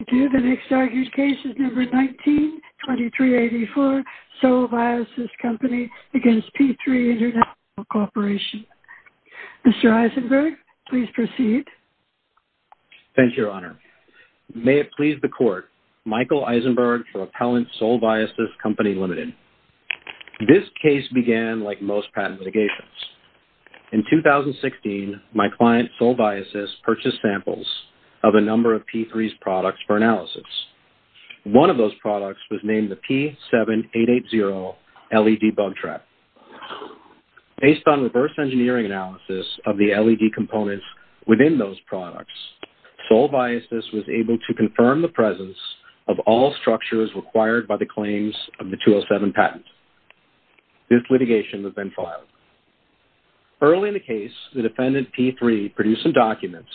The next argued case is No. 19-2384, Sol Viosys Co., Ltd. v. P3 International Corporation. Mr. Eisenberg, please proceed. Thank you, Your Honor. May it please the Court, Michael Eisenberg for Appellant Sol Viosys Co., Ltd. This case began like most patent litigations. In 2016, my client, Sol Viosys, purchased samples of a number of P3's products for analysis. One of those products was named the P7880 LED Bug Track. Based on reverse engineering analysis of the LED components within those products, Sol Viosys was able to confirm the presence of all structures required by the claims of the 207 patent. This litigation has been filed. Early in the case, the defendant, P3, produced some documents,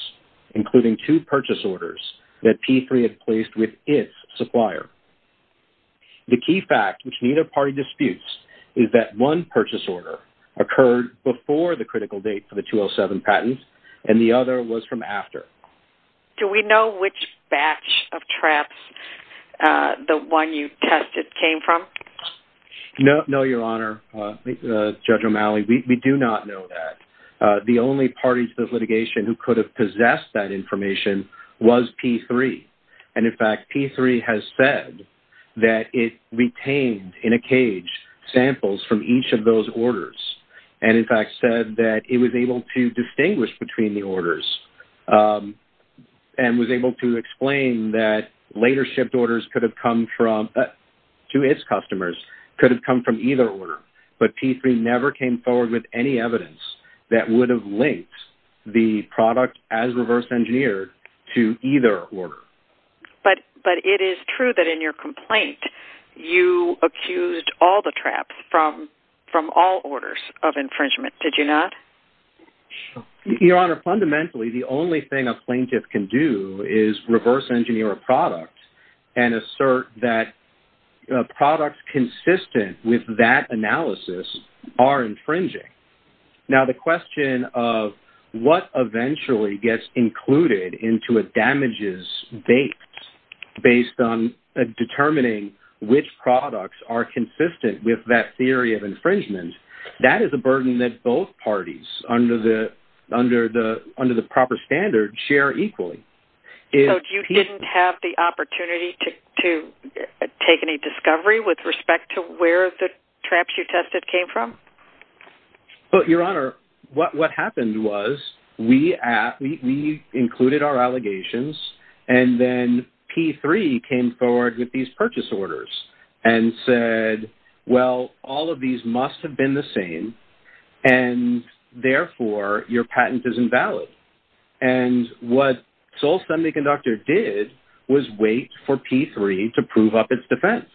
including two purchase orders that P3 had placed with its supplier. The key fact, which neither party disputes, is that one purchase order occurred before the critical date for the 207 patent, and the other was from after. Do we know which batch of traps the one you tested came from? No, Your Honor, Judge O'Malley. We do not know that. The only party to this litigation who could have possessed that information was P3. In fact, P3 has said that it retained, in a cage, samples from each of those orders, and in fact said that it was able to distinguish between the orders and was able to explain that later shipped orders could have come from, to its customers, could have come from either order. But P3 never came forward with any evidence that would have linked the product as reverse engineered to either order. But it is true that in your complaint, you accused all the traps from all orders of infringement, did you not? Your Honor, fundamentally, the only thing a plaintiff can do is reverse engineer a product and assert that products consistent with that analysis are infringing. Now, the question of what eventually gets included into a damages base based on determining which products are consistent with that theory of infringement, that is a burden that both parties, under the proper standard, share equally. So you didn't have the opportunity to take any discovery with respect to where the traps you tested came from? Your Honor, what happened was we included our allegations and then P3 came forward with these purchase orders and said, well, all of these must have been the same, and therefore your patent is invalid. And what Sol Semiconductor did was wait for P3 to prove up its defense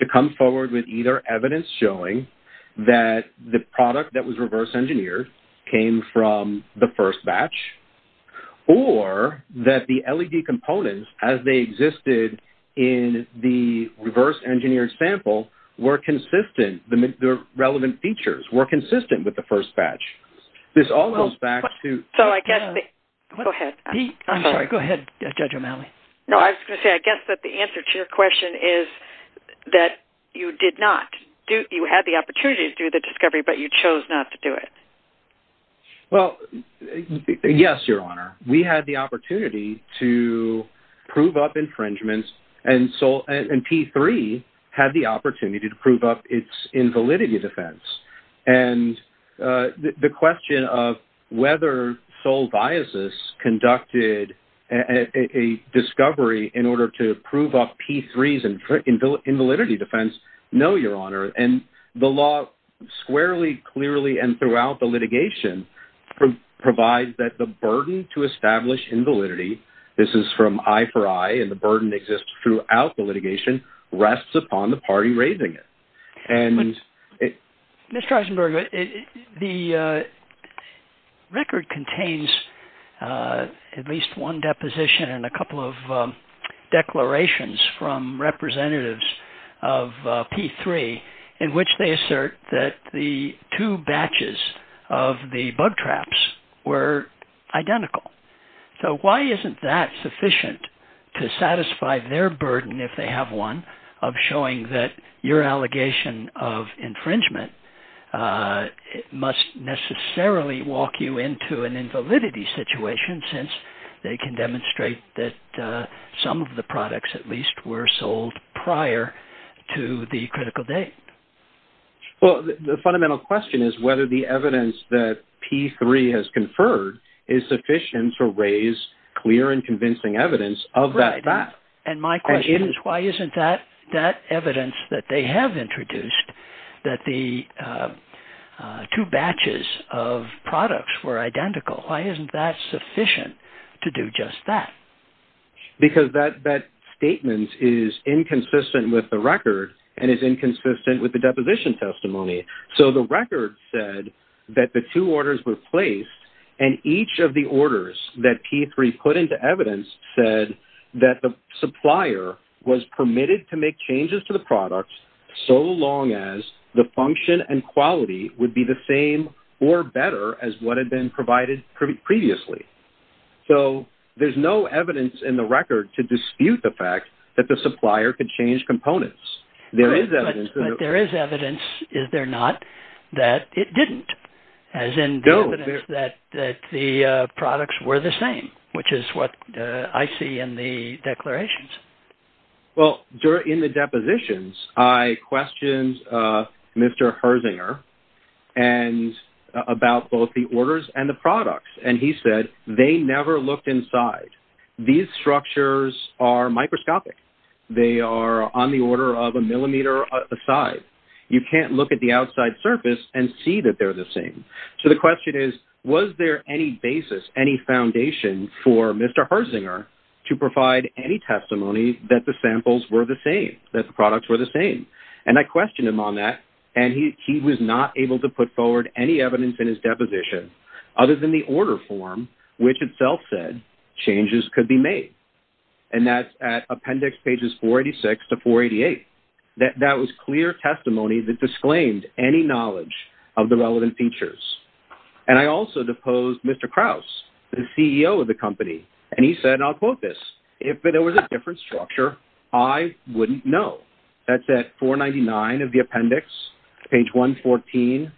to come forward with either evidence showing that the product that was reverse engineered came from the first batch or that the LED components, as they existed in the reverse engineered sample, were consistent, the relevant features were consistent with the first batch. This all goes back to... So I guess... Go ahead. I'm sorry, go ahead, Judge O'Malley. No, I was going to say, I guess that the answer to your question is that you did not. You had the opportunity to do the discovery, but you chose not to do it. Well, yes, Your Honor. We had the opportunity to prove up infringements and P3 had the opportunity to prove up its invalidity defense. And the question of whether Sol Biasis conducted a discovery in order to prove up P3's invalidity defense, no, Your Honor. And the law squarely, clearly, and throughout the litigation provides that the burden to establish invalidity, this is from eye for eye and the burden exists throughout the litigation, rests upon the party raising it. Mr. Eisenberg, the record contains at least one deposition and a couple of declarations from representatives of P3 in which they assert that the two batches of the bug traps were identical. So why isn't that sufficient to satisfy their burden, if they have one, of showing that your allegation of infringement must necessarily walk you into an invalidity situation since they can demonstrate that some of the products at least were sold prior to the critical date? Well, the fundamental question is whether the evidence that P3 has conferred is sufficient to raise clear and convincing evidence of that fact. And my question is why isn't that evidence that they have introduced, that the two batches of products were identical, why isn't that sufficient to do just that? Because that statement is inconsistent with the record and is inconsistent with the deposition testimony. So the record said that the two orders were placed and each of the orders that P3 put into evidence said that the supplier was permitted to make changes to the products so long as the function and quality would be the same or better as what had been provided previously. So there's no evidence in the record to dispute the fact that the supplier could change components. But there is evidence, is there not, that it didn't, as in the evidence that the products were the same, which is what I see in the declarations? Well, in the depositions, I questioned Mr. Herzinger about both the orders and the products and he said they never looked inside. These structures are microscopic. They are on the order of a millimeter aside. You can't look at the outside surface and see that they're the same. So the question is, was there any basis, any foundation, for Mr. Herzinger to provide any testimony that the samples were the same, that the products were the same? And I questioned him on that and he was not able to put forward any evidence in his deposition other than the order form, which itself said changes could be made. And that's at appendix pages 486 to 488. That was clear testimony that disclaimed any knowledge of the relevant features. And I also deposed Mr. Krause, the CEO of the company, and he said, and I'll quote this, if it was a different structure, I wouldn't know. That's at 499 of the appendix, page 114,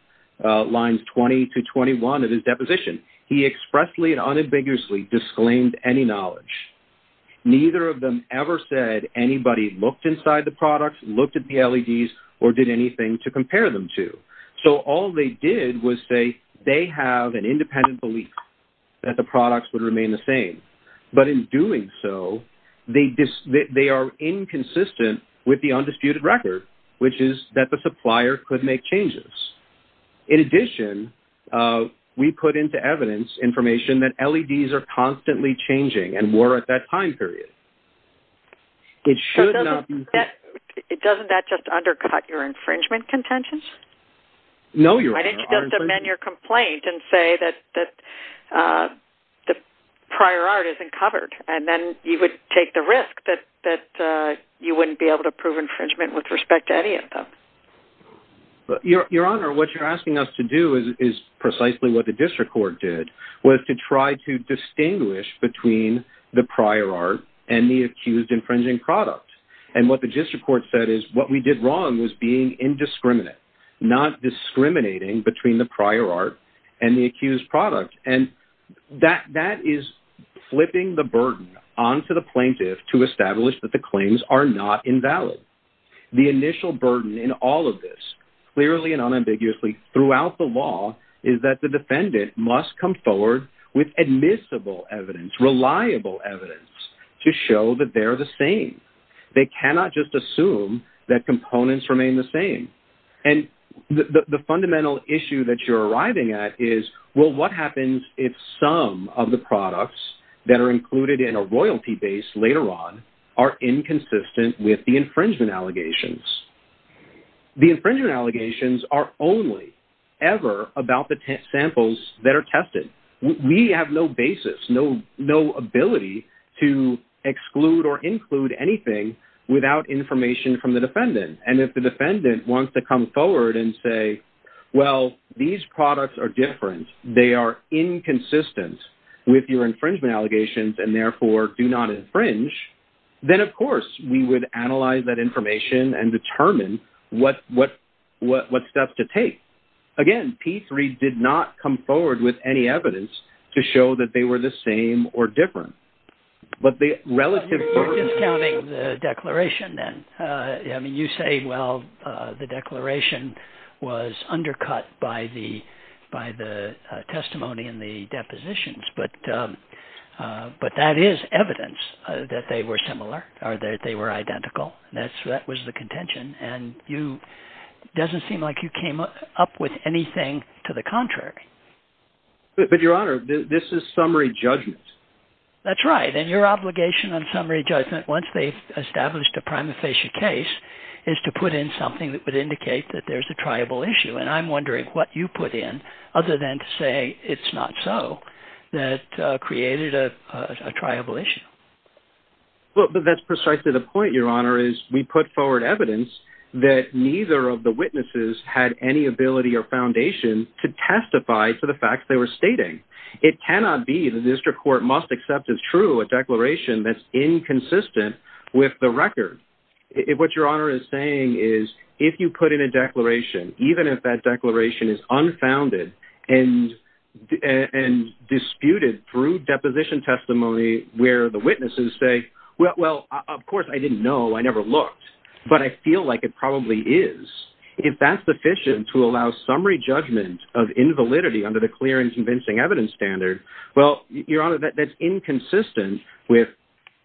lines 20 to 21 of his deposition. He expressly and unambiguously disclaimed any knowledge. Neither of them ever said anybody looked inside the products, looked at the LEDs, or did anything to compare them to. So all they did was say they have an independent belief that the products would remain the same. But in doing so, they are inconsistent with the undisputed record, which is that the supplier could make changes. In addition, we put into evidence information that LEDs are constantly changing and were at that time period. It should not be... Doesn't that just undercut your infringement contentions? No, Your Honor. Why didn't you just amend your complaint and say that the prior art isn't covered? And then you would take the risk that you wouldn't be able to prove infringement with respect to any of them. Your Honor, what you're asking us to do is precisely what the district court did, was to try to distinguish between the prior art and the accused infringing product. And what the district court said is, what we did wrong was being indiscriminate, not discriminating between the prior art and the accused product. And that is flipping the burden onto the plaintiff to establish that the claims are not invalid. The initial burden in all of this, clearly and unambiguously throughout the law, is that the defendant must come forward with admissible evidence, reliable evidence, to show that they're the same. They cannot just assume that components remain the same. And the fundamental issue that you're arriving at is, well, what happens if some of the products that are included in a royalty base later on are inconsistent with the infringement allegations? The infringement allegations are only ever about the samples that are tested. We have no basis, no ability to exclude or include anything without information from the defendant. And if the defendant wants to come forward and say, well, these products are different, they are inconsistent with your infringement allegations and therefore do not infringe, then, of course, we would analyze that information and determine what steps to take. Again, P3 did not come forward with any evidence to show that they were the same or different. But the relative... You're discounting the declaration then. I mean, you say, well, the declaration was undercut by the testimony in the depositions, but that is evidence that they were similar, or that they were identical. That was the contention. And it doesn't seem like you came up with anything to the contrary. But, Your Honor, this is summary judgment. That's right. And your obligation on summary judgment, once they've established a prima facie case, is to put in something that would indicate that there's a triable issue. And I'm wondering what you put in, other than to say it's not so, that created a triable issue. Well, but that's precisely the point, Your Honor, is we put forward evidence that neither of the witnesses had any ability or foundation to testify to the facts they were stating. It cannot be the district court must accept as true a declaration that's inconsistent with the record. What Your Honor is saying is if you put in a declaration, even if that declaration is unfounded and disputed through deposition testimony where the witnesses say, well, of course I didn't know, I never looked, but I feel like it probably is, if that's sufficient to allow summary judgment of invalidity under the clear and convincing evidence standard, well, Your Honor, that's inconsistent with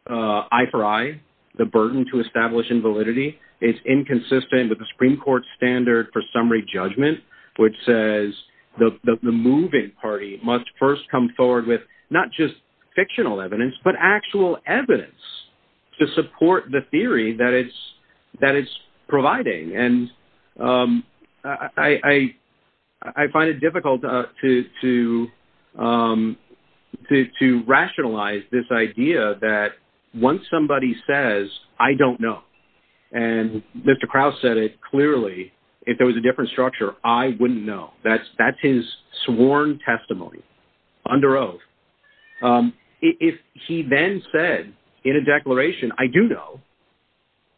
eye for eye, the burden to establish invalidity, it's inconsistent with the Supreme Court standard for summary judgment, which says the moving party must first come forward with, not just fictional evidence, but actual evidence to support the theory that it's providing. And I find it difficult to rationalize this idea that once somebody says, I don't know, and Mr. Krause said it clearly, if there was a different structure, I wouldn't know. That's his sworn testimony under oath. If he then said in a declaration, I do know,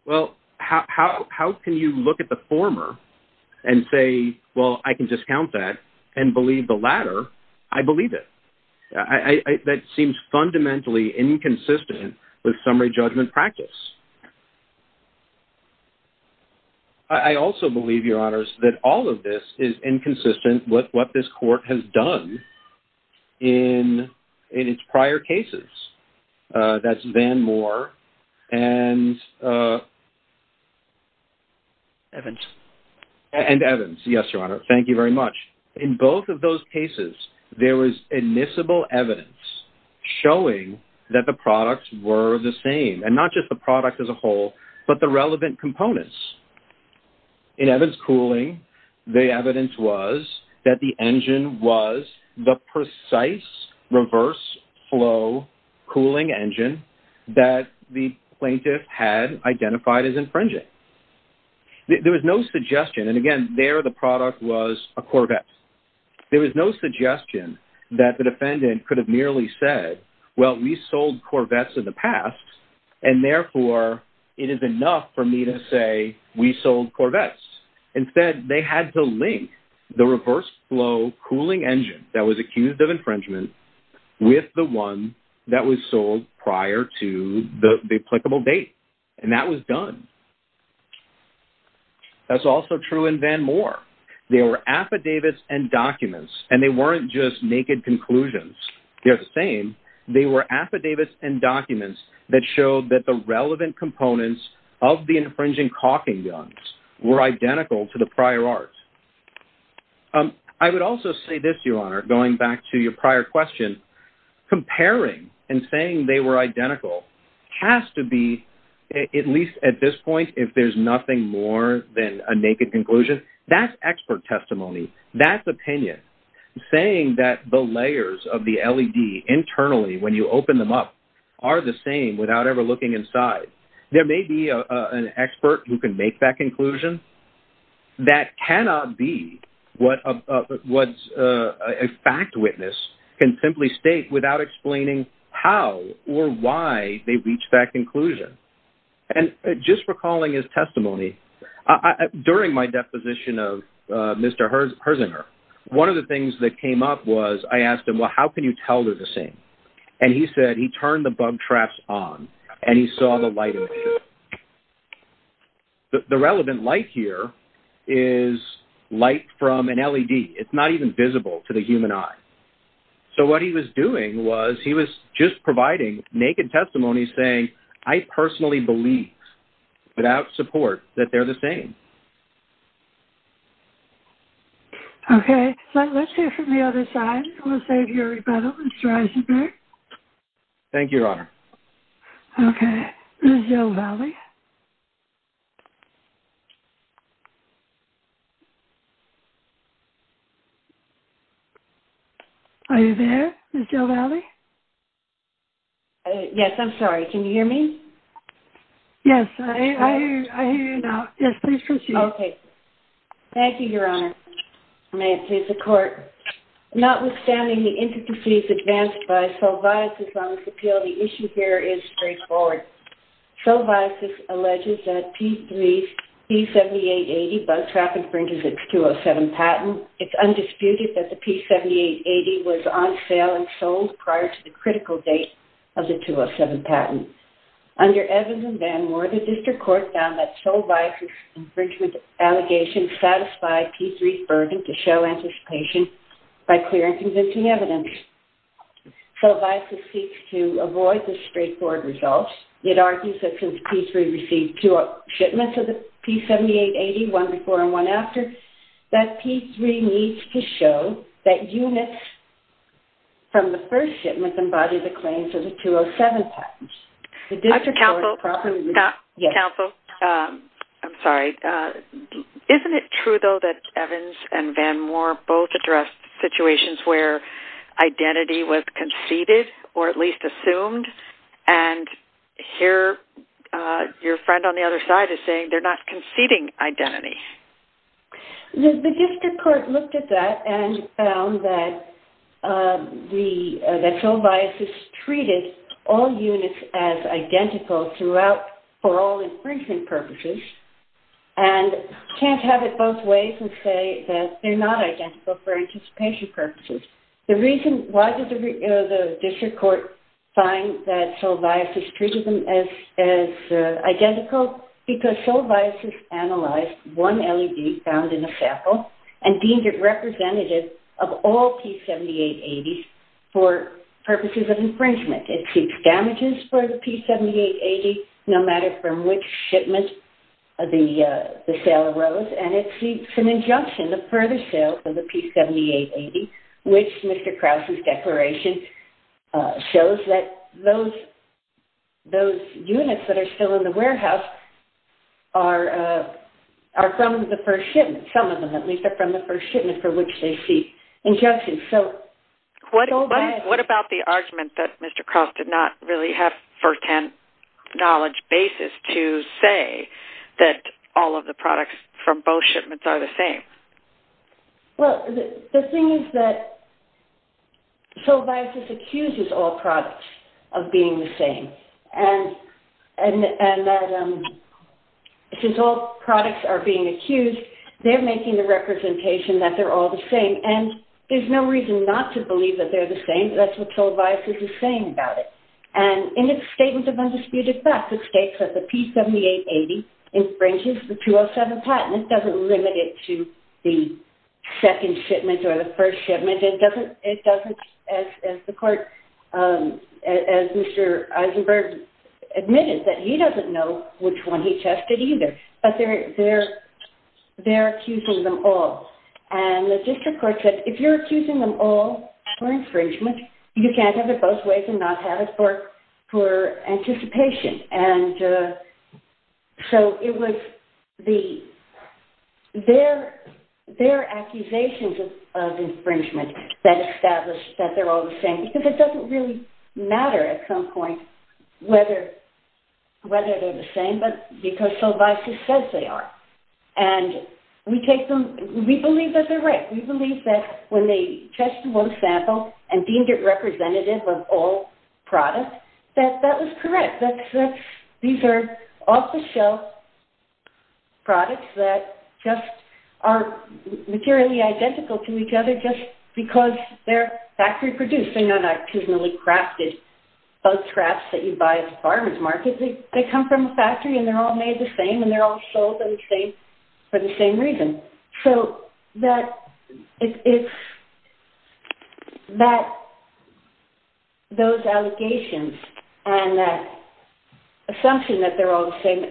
well, how can you look at the former and say, well, I can discount that and believe the latter, I believe it. That seems fundamentally inconsistent with summary judgment practice. I also believe, Your Honors, that all of this is inconsistent with what this court has done in its prior cases. That's Van Moore and Evans. Yes, Your Honor, thank you very much. In both of those cases, there was admissible evidence showing that the products were the same, and not just the product as a whole, but the relevant components. In Evans' cooling, the evidence was that the engine was the precise reverse flow cooling engine that the plaintiff had identified as infringing. There was no suggestion. Again, there the product was a Corvette. There was no suggestion that the defendant could have merely said, well, we sold Corvettes in the past, and therefore it is enough for me to say we sold Corvettes. Instead, they had to link the reverse flow cooling engine that was accused of infringement with the one that was sold prior to the applicable date, and that was done. That's also true in Van Moore. They were affidavits and documents, and they weren't just naked conclusions. They're the same. They were affidavits and documents that showed that the relevant components of the infringing caulking guns were identical to the prior art. I would also say this, Your Honor, going back to your prior question, comparing and saying they were identical has to be, at least at this point, if there's nothing more than a naked conclusion, that's expert testimony. That's opinion. Saying that the layers of the LED internally when you open them up are the same without ever looking inside, there may be an expert who can make that conclusion. That cannot be what a fact witness can simply state without explaining how or why they reached that conclusion. And just recalling his testimony, during my deposition of Mr. Herzinger, one of the things that came up was I asked him, well, how can you tell they're the same? And he said he turned the bug traps on and he saw the light. The relevant light here is light from an LED. It's not even visible to the human eye. So what he was doing was he was just providing naked testimony saying, I personally believe, without support, that they're the same. Okay. Let's hear from the other side. We'll save your rebuttal, Mr. Herzinger. Thank you, Your Honor. Okay. Ms. Del Valle. Are you there, Ms. Del Valle? Yes, I'm sorry. Can you hear me? Yes, I hear you now. Yes, please proceed. Okay. Thank you, Your Honor. May it please the Court. Notwithstanding the intricacies advanced by Soviasis on this appeal, the issue here is straightforward. Soviasis alleges that P3's P7880 bug trap infringes its 207 patent. It's undisputed that the P7880 was on sale and sold prior to the critical date of the 207 patent. Under Evans and Van Moore, the district court found that Soviasis' infringement allegations satisfied P3's burden to show anticipation by clear and convincing evidence. Soviasis seeks to avoid the straightforward results. It argues that since P3 received two shipments of the P7880, one before and one after, that P3 needs to show that units from the first shipment embody the claims of the 207 patent. Dr. Counsel. Counsel. I'm sorry. Isn't it true, though, that Evans and Van Moore both addressed situations where identity was conceded or at least assumed? And here your friend on the other side is saying they're not conceding identity. The district court looked at that and found that Soviasis treated all units as identical throughout for all infringement purposes and can't have it both ways and say that they're not identical for anticipation purposes. Why does the district court find that Soviasis treated them as identical? Well, because Soviasis analyzed one LED found in a sample and deemed it representative of all P7880s for purposes of infringement. It seeks damages for the P7880 no matter from which shipment the sale arose, and it seeks an injunction to further sale of the P7880, which Mr. Krause's declaration shows that those units that are still in the process are from the first shipment. Some of them at least are from the first shipment for which they seek injunction. What about the argument that Mr. Krause did not really have first-hand knowledge basis to say that all of the products from both shipments are the same? Well, the thing is that Soviasis accuses all products of being the same, and that since all products are being accused, they're making the representation that they're all the same. And there's no reason not to believe that they're the same. That's what Soviasis is saying about it. And in its statement of undisputed facts, it states that the P7880 infringes the 207 patent. It doesn't limit it to the second shipment or the first shipment. And it doesn't, as the court, as Mr. Eisenberg admitted, that he doesn't know which one he tested either. But they're accusing them all. And the district court said, if you're accusing them all for infringement, you can't have it both ways and not have it for anticipation. And so it was their accusations of infringement that established that they're all the same. Because it doesn't really matter at some point whether they're the same, but because Soviasis says they are. And we believe that they're right. We believe that when they tested one sample and deemed it representative of all products, that that was correct. These are off-the-shelf products that just aren't materially identical to each other just because they're factory-produced. They're not actually crafted. Those crafts that you buy at the farmer's market, they come from a factory and they're all made the same and they're all sold for the same reason. So those allegations and that assumption that they're all the same,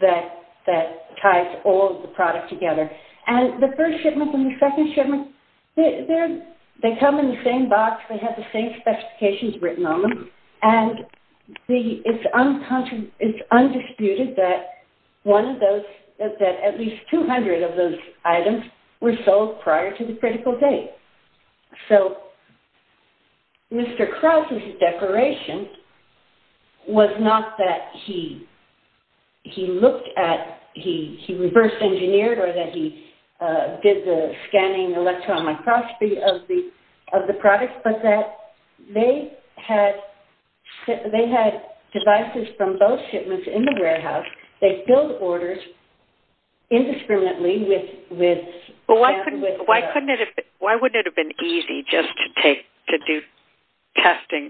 that ties all the products together. And the first shipment and the second shipment, they come in the same box. They have the same specifications written on them. And it's undisputed that one of those, that at least 200 of those items were sold prior to the critical date. So Mr. Krause's declaration was not that he looked at, he reverse-engineered or that he did the scanning electron microscopy of the products, but that they had devices from both shipments in the warehouse. They filled orders indiscriminately with... Why wouldn't it have been easy just to do testing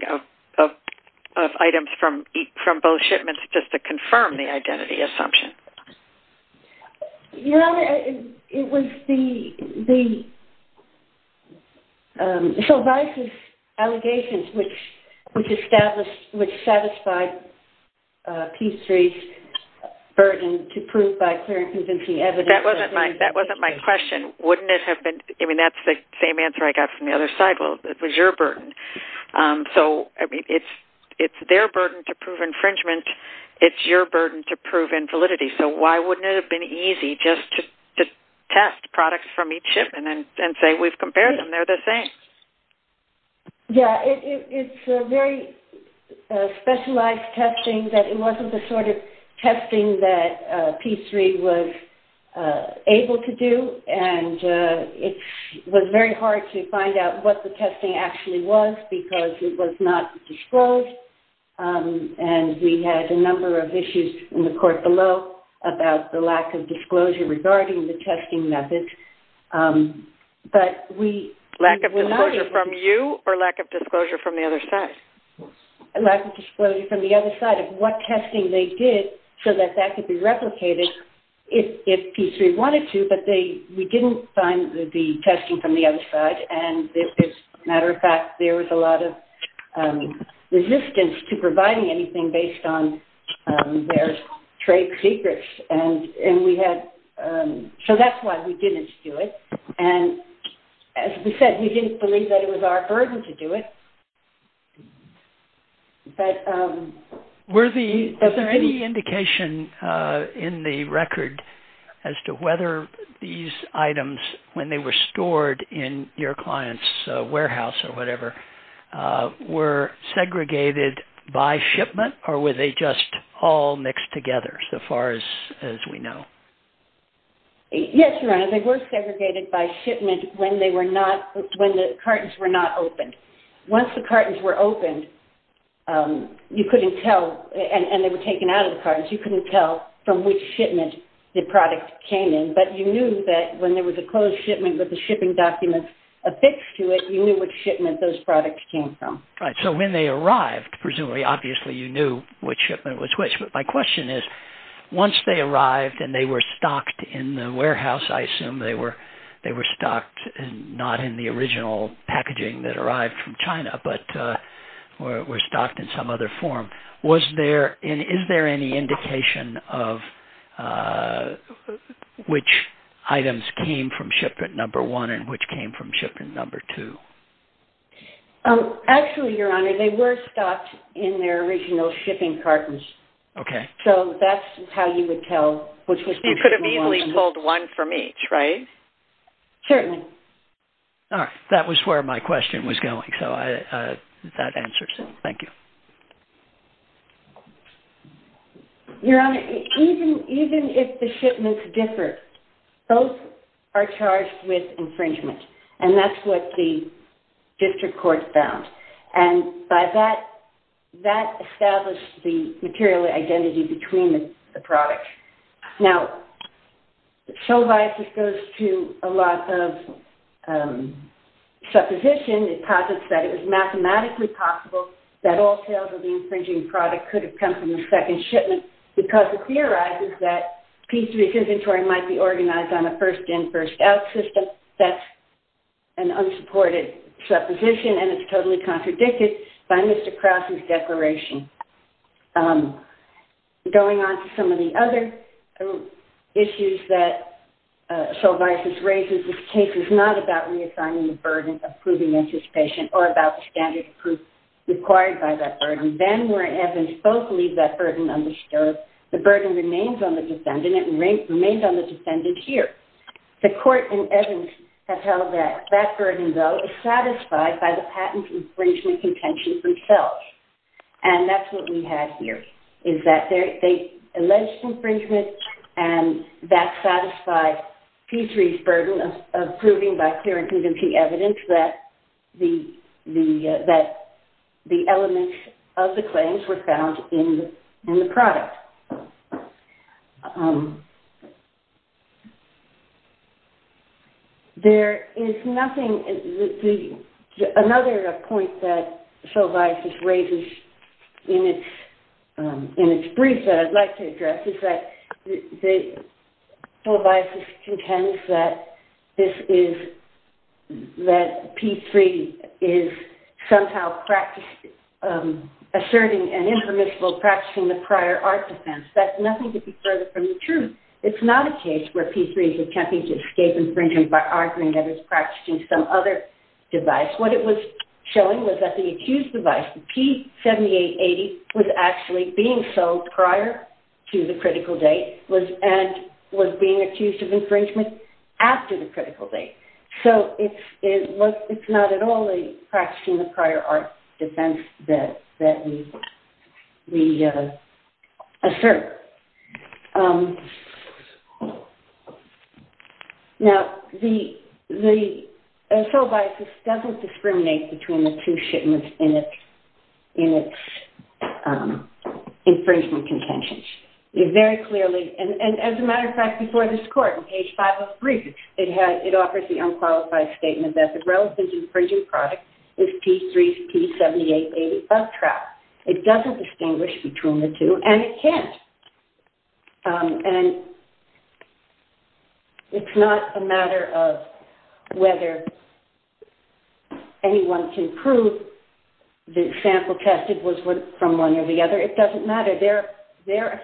of items from both shipments just to confirm the identity assumption? You know, it was the... So Vice's allegations, which established, which satisfied P3's burden to prove by clear and convincing evidence... That wasn't my question. Wouldn't it have been... I mean, that's the same answer I got from the other side. Well, it was your burden. So, I mean, it's their burden to prove infringement. It's your burden to prove invalidity. So why wouldn't it have been easy just to test products from each shipment and say, we've compared them. They're the same. Yeah. It's a very specialized testing that it wasn't the sort of testing that P3 was able to do. And it was very hard to find out what the testing actually was because it was not disclosed. And we had a number of issues in the court below about the lack of disclosure regarding the testing methods. But we... Lack of disclosure from you or lack of disclosure from the other side? Lack of disclosure from the other side of what testing they did so that that could be replicated if P3 wanted to. But we didn't find the testing from the other side. And, as a matter of fact, there was a lot of resistance to providing anything based on their trade secrets. And we had... So that's why we didn't do it. And, as we said, we didn't believe that it was our burden to do it. But... Were the... Is there any indication in the record as to whether these items, when they were stored in your client's warehouse or whatever, were segregated by shipment or were they just all mixed together, so far as we know? Yes, Your Honor. They were segregated by shipment when they were not... When the cartons were not opened. Once the cartons were opened, you couldn't tell... And they were taken out of the cartons. You couldn't tell from which shipment the product came in. But you knew that when there was a closed shipment with the shipping documents affixed to it, you knew which shipment those products came from. So when they arrived, presumably, obviously, you knew which shipment was which. But my question is, once they arrived and they were stocked in the warehouse, I assume they were stocked not in the original packaging that arrived from China but were stocked in some other form, is there any indication of which items came from shipment number one and which came from shipment number two? Actually, Your Honor, they were stocked in their original shipping cartons. Okay. So that's how you would tell... You could have easily told one from each, right? Certainly. All right. That was where my question was going, so that answers it. Thank you. Your Honor, even if the shipments differ, those are charged with infringement, and that's what the district court found. And that established the material identity between the products. Now, so far as it goes to a lot of supposition, it posits that it was mathematically possible that all sales of the infringing product could have come from the second shipment because it theorizes that P3's inventory might be organized on a first-in, first-out system. That's an unsupported supposition, and it's totally contradicted by Mr. Krause's declaration. Going on to some of the other issues that Solvaysis raises, this case is not about reassigning the burden of proving anticipation or about the standard of proof required by that burden. Then, where Evans both leave that burden undisturbed, the burden remains on the defendant, and it remains on the defendant here. The court in Evans has held that that burden, though, is satisfied by the patent infringement contention themselves. And that's what we have here, is that the alleged infringement and that satisfied P3's burden of proving by clear and convincing evidence that the elements of the claims were found in the product. Another point that Solvaysis raises in its brief that I'd like to address is that Solvaysis contends that P3 is somehow asserting and impermissible practicing the prior art defense. That's nothing to be further from the truth. It's not a case where P3 is attempting to escape infringement by arguing that it's practicing some other device. What it was showing was that the accused device, the P7880, was actually being sold prior to the critical date and was being accused of infringement after the critical date. So it's not at all a practicing the prior art defense that we assert. Now, Solvaysis doesn't discriminate between the two shipments in its infringement contentions. It very clearly, and as a matter of fact, before this court in page 503, it offered the unqualified statement that the relevant infringing product is P3's P7880 uptrap. It doesn't distinguish between the two, and it can't. And it's not a matter of whether anyone can prove the sample tested was from one or the other. It doesn't matter. They're accusing all. They're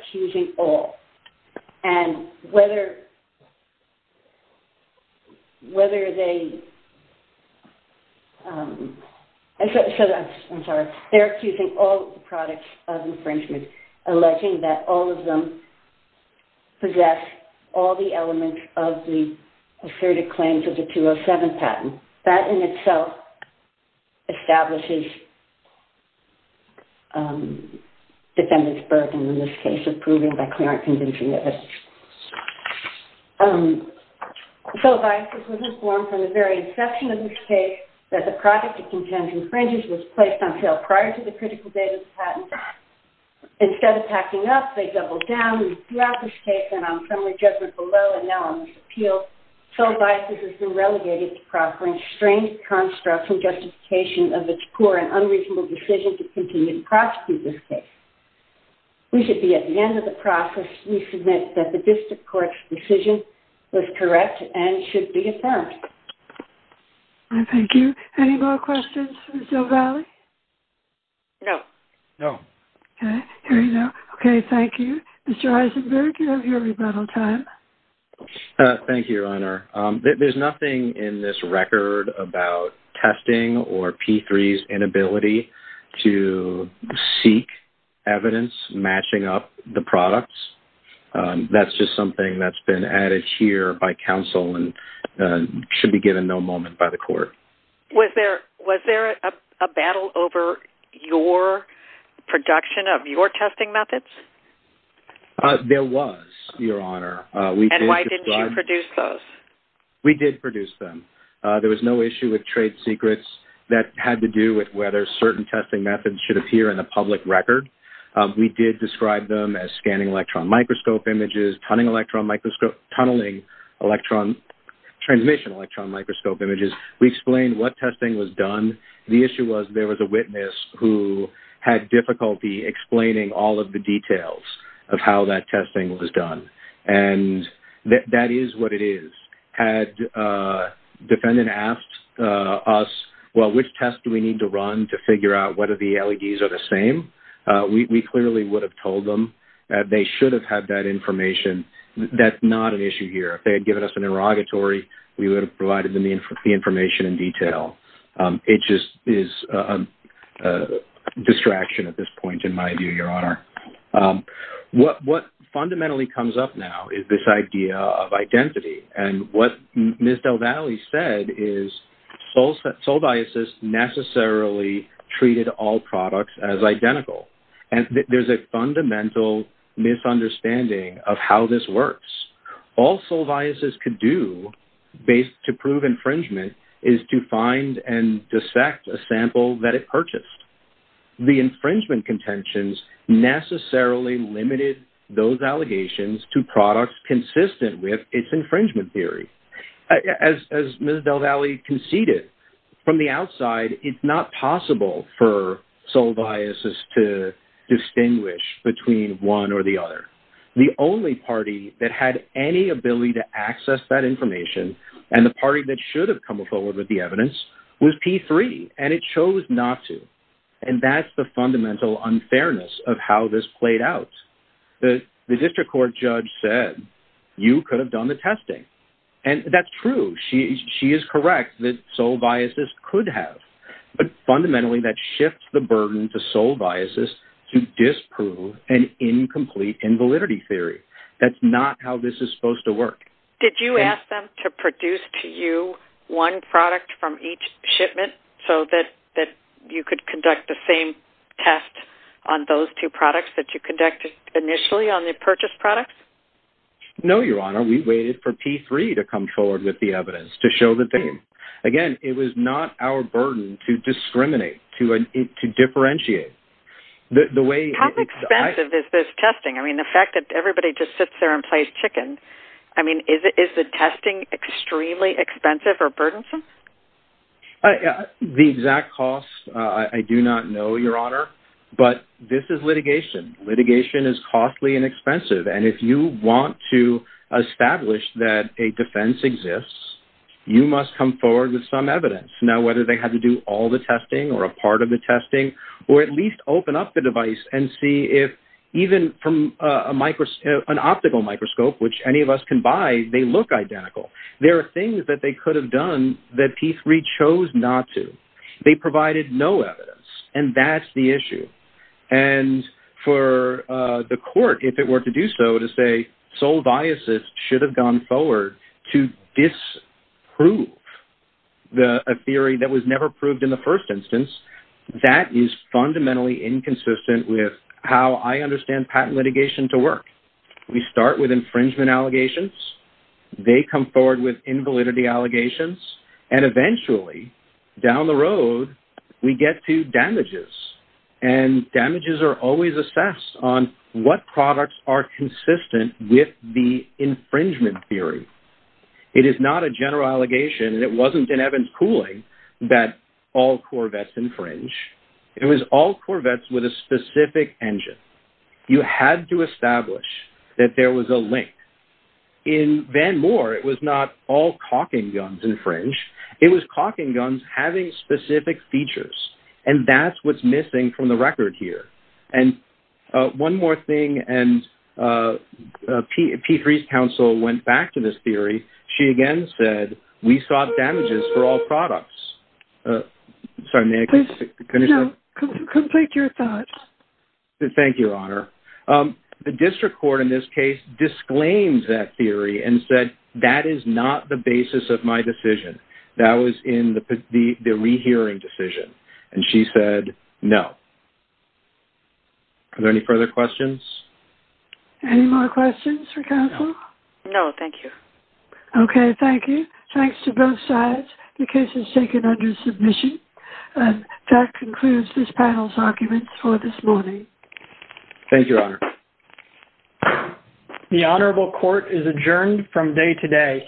accusing all products of infringement, alleging that all of them possess all the elements of the asserted claims of the 207 patent. That in itself establishes defendant's burden in this case of proving by clear and convincing evidence. Solvaysis was informed from the very inception of this case that the product it contends infringes was placed on sale prior to the critical date of the patent. Instead of packing up, they doubled down. Throughout this case, and on summary judgment below, and now on this appeal, Solvaysis has been relegated to proffering strange constructs and justification of its poor and unreasonable decision to continue to prosecute this case. We should be at the end of the process. We submit that the district court's decision was correct and should be affirmed. Thank you. Any more questions for Solvaysis? No. No. Okay, thank you. Mr. Eisenberg, you have your rebuttal time. Thank you, Your Honor. There's nothing in this record about testing or P3's inability to seek evidence matching up the products. That's just something that's been added here by counsel and should be given no moment by the court. Was there a battle over your production of your testing methods? There was, Your Honor. And why didn't you produce those? We did produce them. There was no issue with trade secrets that had to do with whether certain testing methods should appear in a public record. We did describe them as scanning electron microscope images, tunneling electron transmission electron microscope images. We explained what testing was done. The issue was there was a witness who had difficulty explaining all of the details of how that testing was done. And that is what it is. Had a defendant asked us, well, which test do we need to run to figure out whether the LEDs are the same? We clearly would have told them that they should have had that information. That's not an issue here. If they had given us an inrogatory, we would have provided them the information in detail. It just is a distraction at this point, in my view, Your Honor. What fundamentally comes up now is this idea of identity. And what Ms. Del Valle said is sole biases necessarily treated all products as identical. And there's a fundamental misunderstanding of how this works. All sole biases could do to prove infringement is to find and dissect a sample that it purchased. The infringement contentions necessarily limited those allegations to products consistent with its infringement theory. As Ms. Del Valle conceded, from the outside, it's not possible for sole biases to distinguish between one or the other. The only party that had any ability to access that information and the party that should have come forward with the evidence was P3, and it chose not to. And that's the fundamental unfairness of how this played out. The district court judge said, you could have done the testing. And that's true. She is correct that sole biases could have. But fundamentally, that shifts the burden to sole biases to disprove an incomplete invalidity theory. That's not how this is supposed to work. Did you ask them to produce to you one product from each shipment so that you could conduct the same test on those two products that you conducted initially on the purchased products? No, Your Honor. We waited for P3 to come forward with the evidence to show that they did. Again, it was not our burden to discriminate, to differentiate. How expensive is this testing? I mean, the fact that everybody just sits there and plays chicken. I mean, is the testing extremely expensive or burdensome? The exact cost, I do not know, Your Honor. But this is litigation. Litigation is costly and expensive. And if you want to establish that a defense exists, you must come forward with some evidence. Now, whether they had to do all the testing or a part of the testing, or at least open up the device and see if even from an optical microscope, which any of us can buy, they look identical. There are things that they could have done that P3 chose not to. They provided no evidence, and that's the issue. And for the court, if it were to do so, to say sole biases should have gone forward to disprove a theory that was never proved in the first instance, that is fundamentally inconsistent with how I understand patent litigation to work. We start with infringement allegations. They come forward with invalidity allegations. And eventually, down the road, we get to damages. And damages are always assessed on what products are consistent with the infringement theory. It is not a general allegation, and it wasn't in Evans' ruling, that all Corvettes infringe. It was all Corvettes with a specific engine. You had to establish that there was a link. In Van Moore, it was not all caulking guns infringe. It was caulking guns having specific features. And that's what's missing from the record here. And one more thing, and Petrie's counsel went back to this theory. She again said, we sought damages for all products. Sorry, may I finish up? No, complete your thoughts. Thank you, Your Honor. The district court, in this case, disclaims that theory and said, that is not the basis of my decision. That was in the rehearing decision. And she said, no. Are there any further questions? Any more questions for counsel? No, thank you. Okay, thank you. Thanks to both sides. The case is taken under submission. That concludes this panel's arguments for this morning. Thank you, Your Honor. The Honorable Court is adjourned from day today.